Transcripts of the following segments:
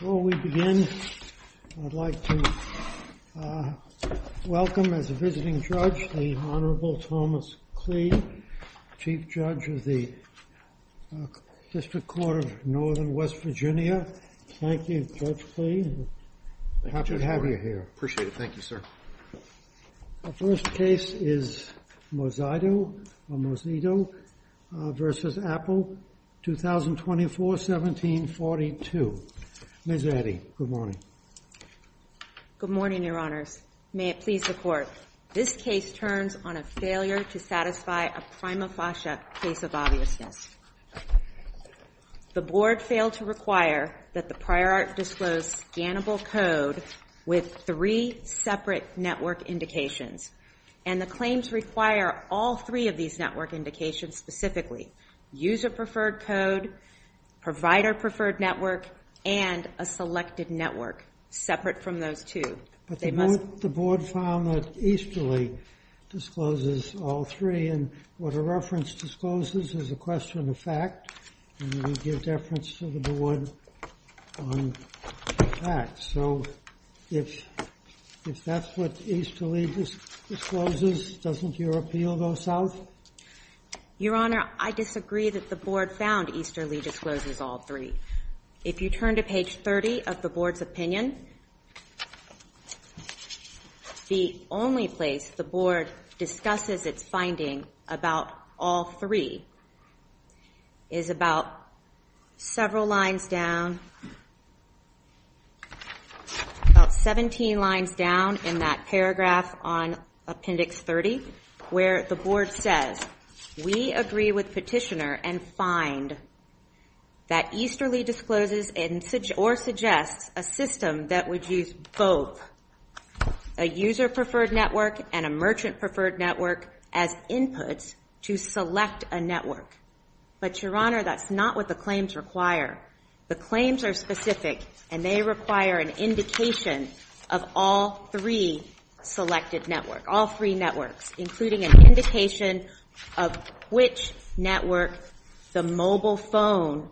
Before we begin, I'd like to welcome, as a visiting judge, the Honorable Thomas Klee, Chief Judge of the District Court of Northern West Virginia. Thank you, Judge Klee. Happy to have you here. Appreciate it. Thank you, sir. Our first case is Mosito v. Apple, 2024, 1742. Ms. Reddy, good morning. Good morning, Your Honors. May it please the Court, this case turns on a failure to satisfy a prima facie case of obviousness. The board failed to require that the prior art disclose scannable code with three separate network indications. And the claims require all three of these network indications specifically, user preferred code, provider preferred network, and a selected network separate from those two. But the board found that Easterly discloses all three. And what a reference discloses is a question of fact. And we give deference to the board on that. So if that's what Easterly discloses, doesn't your appeal go south? Your Honor, I disagree that the board found Easterly discloses all three. If you turn to page 30 of the board's opinion, the only place the board discusses its finding about all three is about several lines down, about 17 lines down in that paragraph on appendix 30, where the board says, we agree with petitioner and find that Easterly discloses or suggests a system that would use both a user preferred network and a merchant preferred network as inputs to select a network. But Your Honor, that's not what the claims require. The claims are specific, and they require an indication of all three selected network, all three networks, including an indication of which network the mobile phone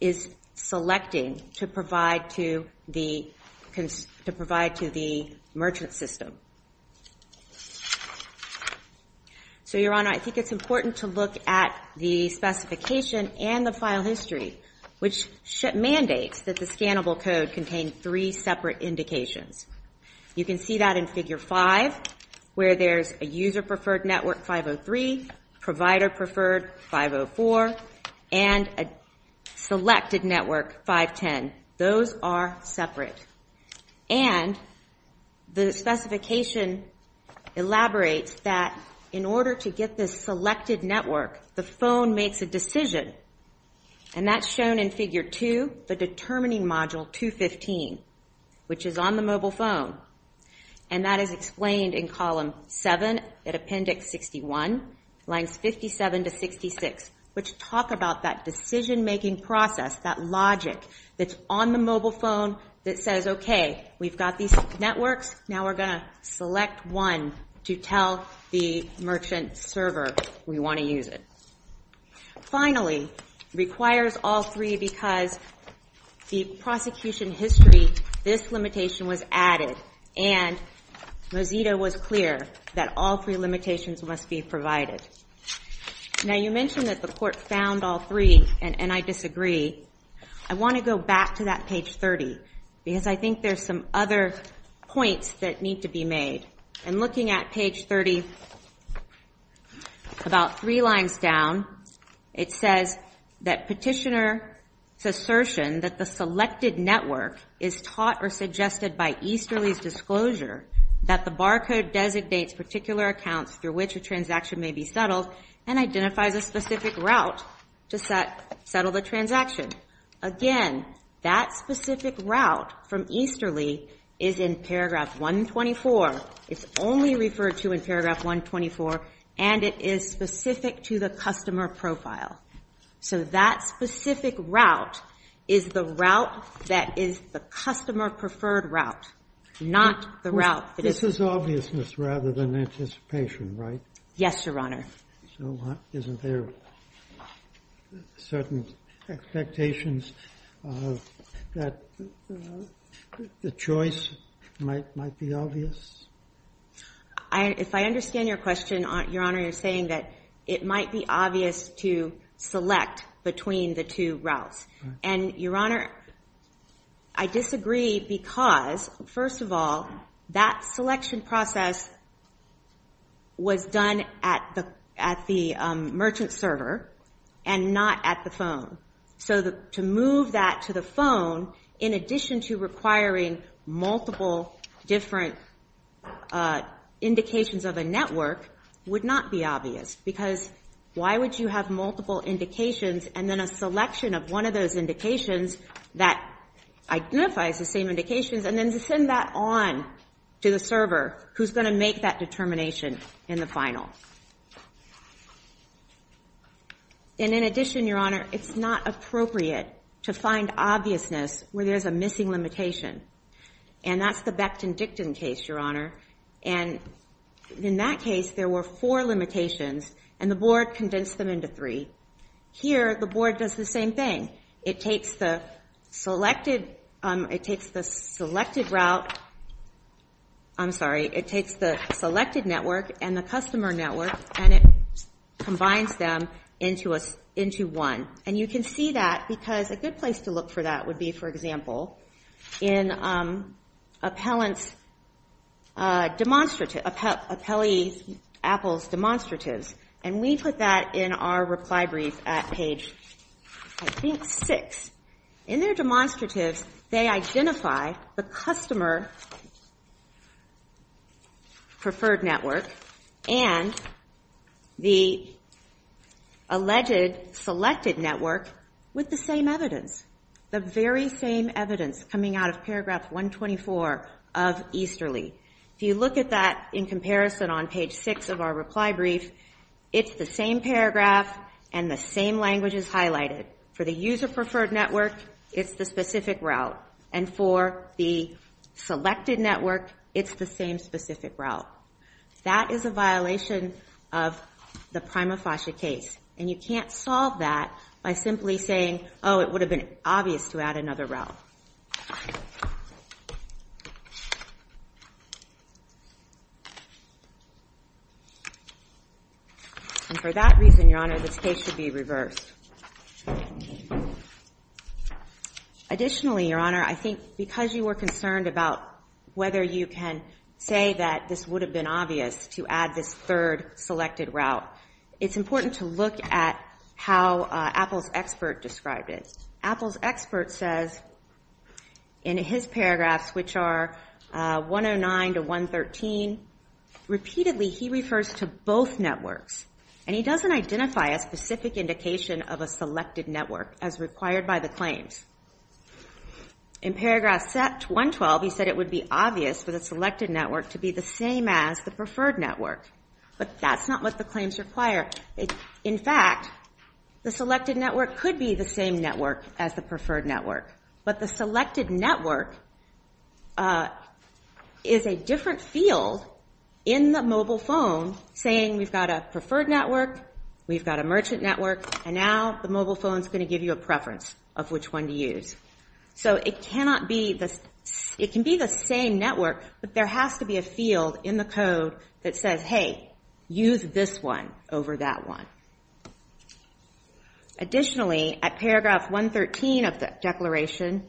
is selecting to provide to the merchant system. So Your Honor, I think it's important to look at the specification and the file history, which mandates that the scannable code contain three separate indications. You can see that in figure 5, where there's a user preferred network 503, provider preferred 504, and a selected network 510. Those are separate. And the specification elaborates that in order to get this selected network, the phone makes a decision. And that's shown in figure 2, the determining module 215, which is on the mobile phone. And that is explained in column 7 at appendix 61, lines 57 to 66, which talk about that decision-making process, that logic that's on the mobile phone that says, OK, we've got these networks. Now we're going to select one to tell the merchant server we want to use it. Finally, requires all three, because the prosecution history, this limitation was added. And Mozilla was clear that all three limitations must be provided. Now you mentioned that the court found all three, and I disagree. I want to go back to that page 30, because I think there's some other points that need to be made. And looking at page 30, about three lines down, it says that petitioner's assertion that the selected network is taught or suggested by Easterly's disclosure that the barcode designates particular accounts through which a transaction may be settled, and identifies a specific route to settle the transaction. Again, that specific route from Easterly is in paragraph 124. It's only referred to in paragraph 124, and it is specific to the customer profile. So that specific route is the route that is the customer-preferred route, not the route that is This is obviousness rather than anticipation, right? Yes, Your Honor. So isn't there certain expectations that the choice might be obvious? If I understand your question, Your Honor, you're saying that it might be obvious to select between the two routes. And Your Honor, I disagree, because first of all, that selection process was done at the merchant server and not at the phone. So to move that to the phone, in addition to requiring multiple different indications of a network, would not be obvious. Because why would you have multiple indications, and then a selection of one of those indications that identifies the same indications, and then to send that on to the server who's going to make that determination in the final? And in addition, Your Honor, it's not appropriate to find obviousness where there's a missing limitation. And that's the Becton-Dickton case, Your Honor. And in that case, there were four limitations, and the board condensed them into three. Here, the board does the same thing. It takes the selected route. I'm sorry. It takes the selected network and the customer network and it combines them into one. And you can see that, because a good place to look for that would be, for example, in Appellee Apple's demonstratives. And we put that in our reply brief at page, I think, six. In their demonstratives, they identify the customer preferred network and the alleged selected network with the same evidence, the very same evidence coming out of paragraph 124 of Easterly. If you look at that in comparison on page six of our reply brief, it's the same paragraph and the same language is highlighted. For the user preferred network, it's the specific route. And for the selected network, it's the same specific route. That is a violation of the Prima Fascia case. And you can't solve that by simply saying, oh, it would have been obvious to add another route. And for that reason, Your Honor, this case should be reversed. Additionally, Your Honor, I think, because you were concerned about whether you can say that this would have been obvious to add this third selected route, it's important to look at how Appell's expert described it. Appell's expert says, in his paragraphs, which are 109 to 113, repeatedly, he refers to both networks. And he doesn't identify a specific indication of a selected network as required by the claims. In paragraph 112, he said it would be obvious for the selected network to be the same as the preferred network. But that's not what the claims require. In fact, the selected network could be the same network as the preferred network. But the selected network is a different field in the mobile phone saying we've got a preferred network, we've got a merchant network, and now the mobile phone's going to give you a preference of which one to use. So it can be the same network, but there has to be a field in the code that says, hey, use this one over that one. Additionally, at paragraph 113 of the declaration,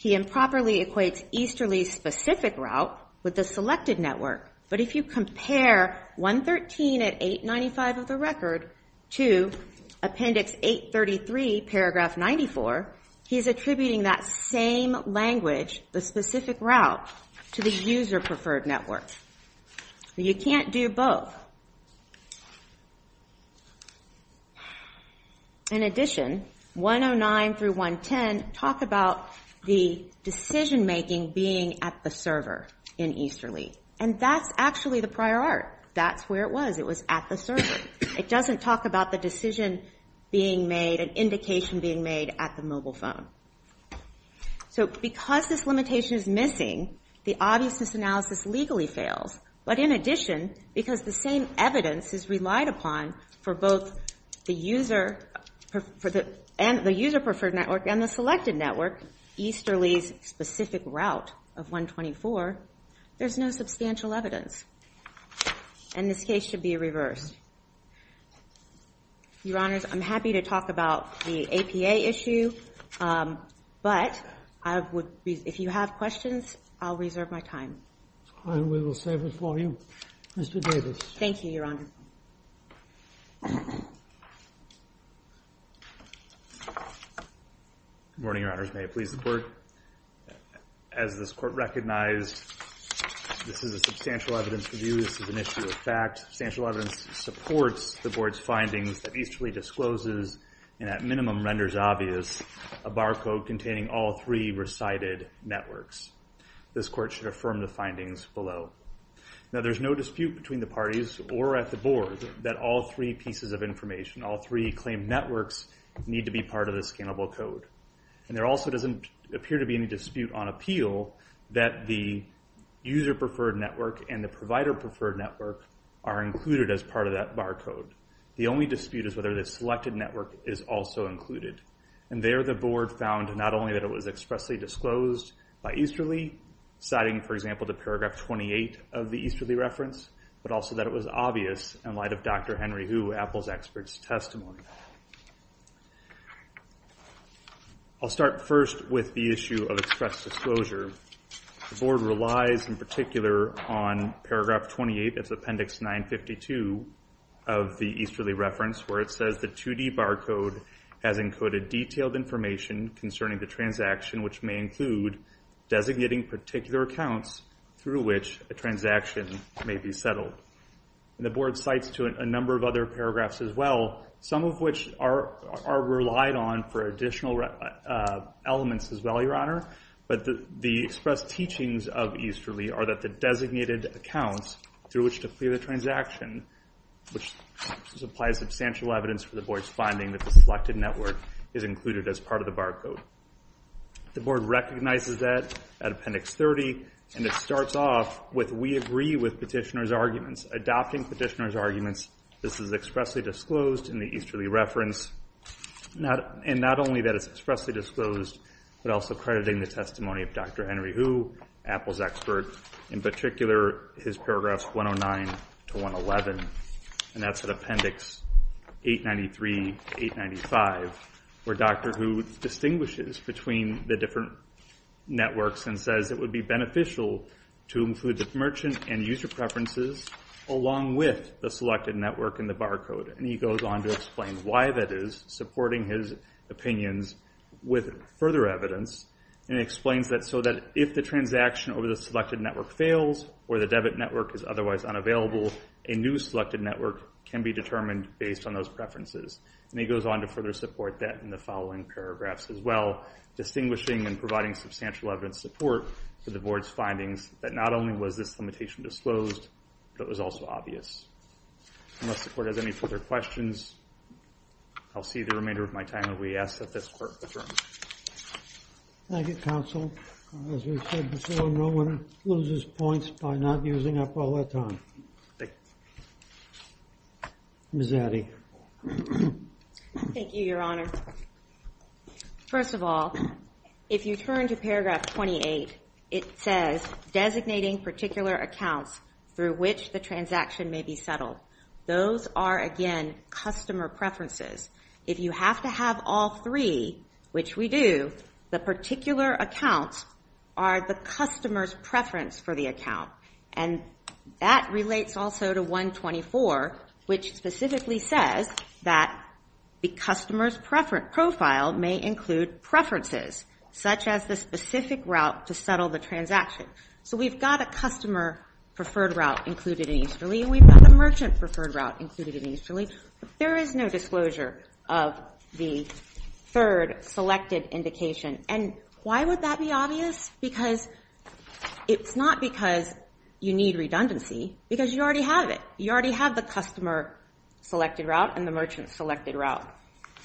he improperly equates easterly specific route with the selected network. But if you compare 113 at 895 of the record to appendix 833, paragraph 94, he's attributing that same language, the specific route, to the user preferred network. You can't do both. In addition, 109 through 110 talk about the decision making being at the server in easterly. And that's actually the prior art. That's where it was. It was at the server. It doesn't talk about the decision being made, an indication being made at the mobile phone. So because this limitation is missing, the obviousness analysis legally fails. But in addition, because the same evidence is relied upon for both the user preferred network and the selected network, easterly's specific route of 124, there's no substantial evidence. And this case should be reversed. Your Honors, I'm happy to talk about the APA issue. But if you have questions, I'll reserve my time. And we will save it for you. Mr. Davis. Thank you, Your Honor. Good morning, Your Honors. May it please the Court. As this Court recognized, this is a substantial evidence review. This is an issue of fact. Substantial evidence supports the Board's findings that easterly discloses and, at minimum, renders obvious a barcode containing all three recited networks. This Court should affirm the findings below. Now, there's no dispute between the parties or at the Board that all three pieces of information, all three claimed networks, need to be part of the scalable code. And there also doesn't appear to be any dispute on appeal that the user-preferred network and the provider-preferred network are included as part of that barcode. The only dispute is whether the selected network is also included. And there, the Board found not only that it was expressly disclosed by easterly, citing, for example, the paragraph 28 of the easterly reference, but also that it was obvious in light of Dr. Henry Hu, Apple's expert's I'll start first with the issue of express disclosure. The Board relies, in particular, on paragraph 28 of Appendix 952 of the easterly reference, where it says the 2D barcode has encoded detailed information concerning the transaction, which may include designating particular accounts through which a transaction may be settled. The Board cites to it a number of other paragraphs as well, some of which are relied on for additional elements as well, Your Honor. But the express teachings of easterly are that the designated accounts through which to clear the transaction, which supplies substantial evidence for the Board's finding that the selected network is included as part of the barcode. The Board recognizes that at Appendix 30. And it starts off with, we agree with petitioner's arguments. Adopting petitioner's arguments, this is expressly disclosed in the easterly reference. And not only that it's expressly disclosed, but also crediting the testimony of Dr. Henry Hu, Apple's expert. In particular, his paragraphs 109 to 111. And that's at Appendix 893, 895, where Dr. Hu distinguishes between the different networks and says it would be beneficial to include the merchant and user preferences along with the selected network in the barcode. And he goes on to explain why that is, supporting his opinions with further evidence. And he explains that so that if the transaction over the selected network fails, or the debit network is otherwise unavailable, a new selected network can be determined based on those preferences. And he goes on to further support that in the following paragraphs as well, distinguishing and providing substantial evidence support for the Board's findings that not only was this limitation disclosed, but was also obvious. Unless the court has any further questions, I'll see the remainder of my time and we ask that this court adjourn. Thank you, counsel. As we said before, no one loses points by not using up all their time. Ms. Addy. Thank you, Your Honor. First of all, if you turn to paragraph 28, it says, designating particular accounts through which the transaction may be settled. Those are, again, customer preferences. If you have to have all three, which we do, the particular accounts are the customer's preference for the account. And that relates also to 124, which specifically says that the customer's profile may include preferences, such as the specific route to settle the transaction. So we've got a customer-preferred route included in Easterly. We've got a merchant-preferred route included in Easterly. There is no disclosure of the third selected indication. And why would that be obvious? Because it's not because you need redundancy, because you already have it. You already have the customer-selected route and the merchant-selected route.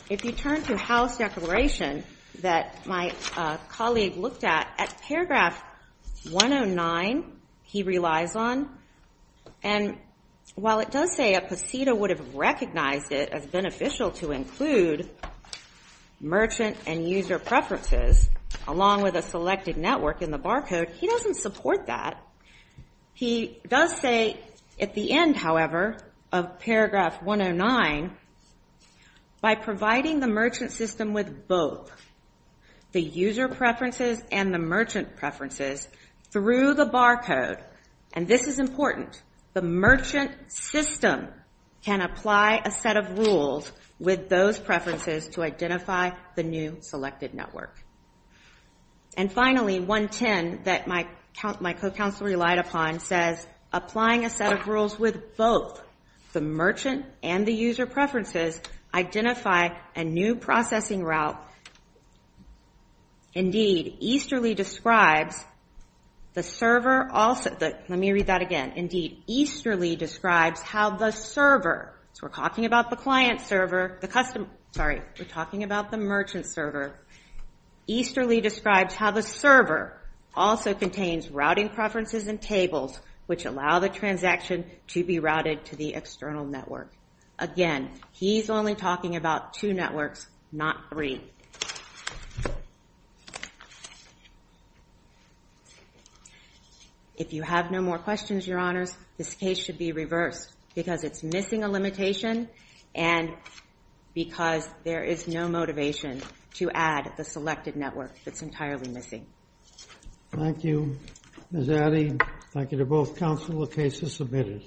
If you turn to house declaration that my colleague looked at, at paragraph 109, he relies on. And while it does say a PECETA would have recognized it as beneficial to include merchant and user preferences along with a selected network in the barcode, he doesn't support that. He does say at the end, however, of paragraph 109, by providing the merchant system with both the user preferences and the merchant preferences through the barcode, and this is important, the merchant system can apply a set of rules with those preferences to identify the new selected network. And finally, 110, that my co-counsel relied upon, says applying a set of rules with both the merchant and the user preferences identify a new processing route. Indeed, Easterly describes the server also. Let me read that again. Indeed, Easterly describes how the server, so we're talking about the client server, the customer, sorry, we're talking about the merchant server. Easterly describes how the server also contains routing preferences and tables, which allow the transaction to be routed to the external network. Again, he's only talking about two networks, not three. If you have no more questions, Your Honors, this case should be reversed, because it's missing a limitation and because there is no motivation to add the selected network that's entirely missing. Thank you, Ms. Addy. Thank you to both counsel. The case is submitted.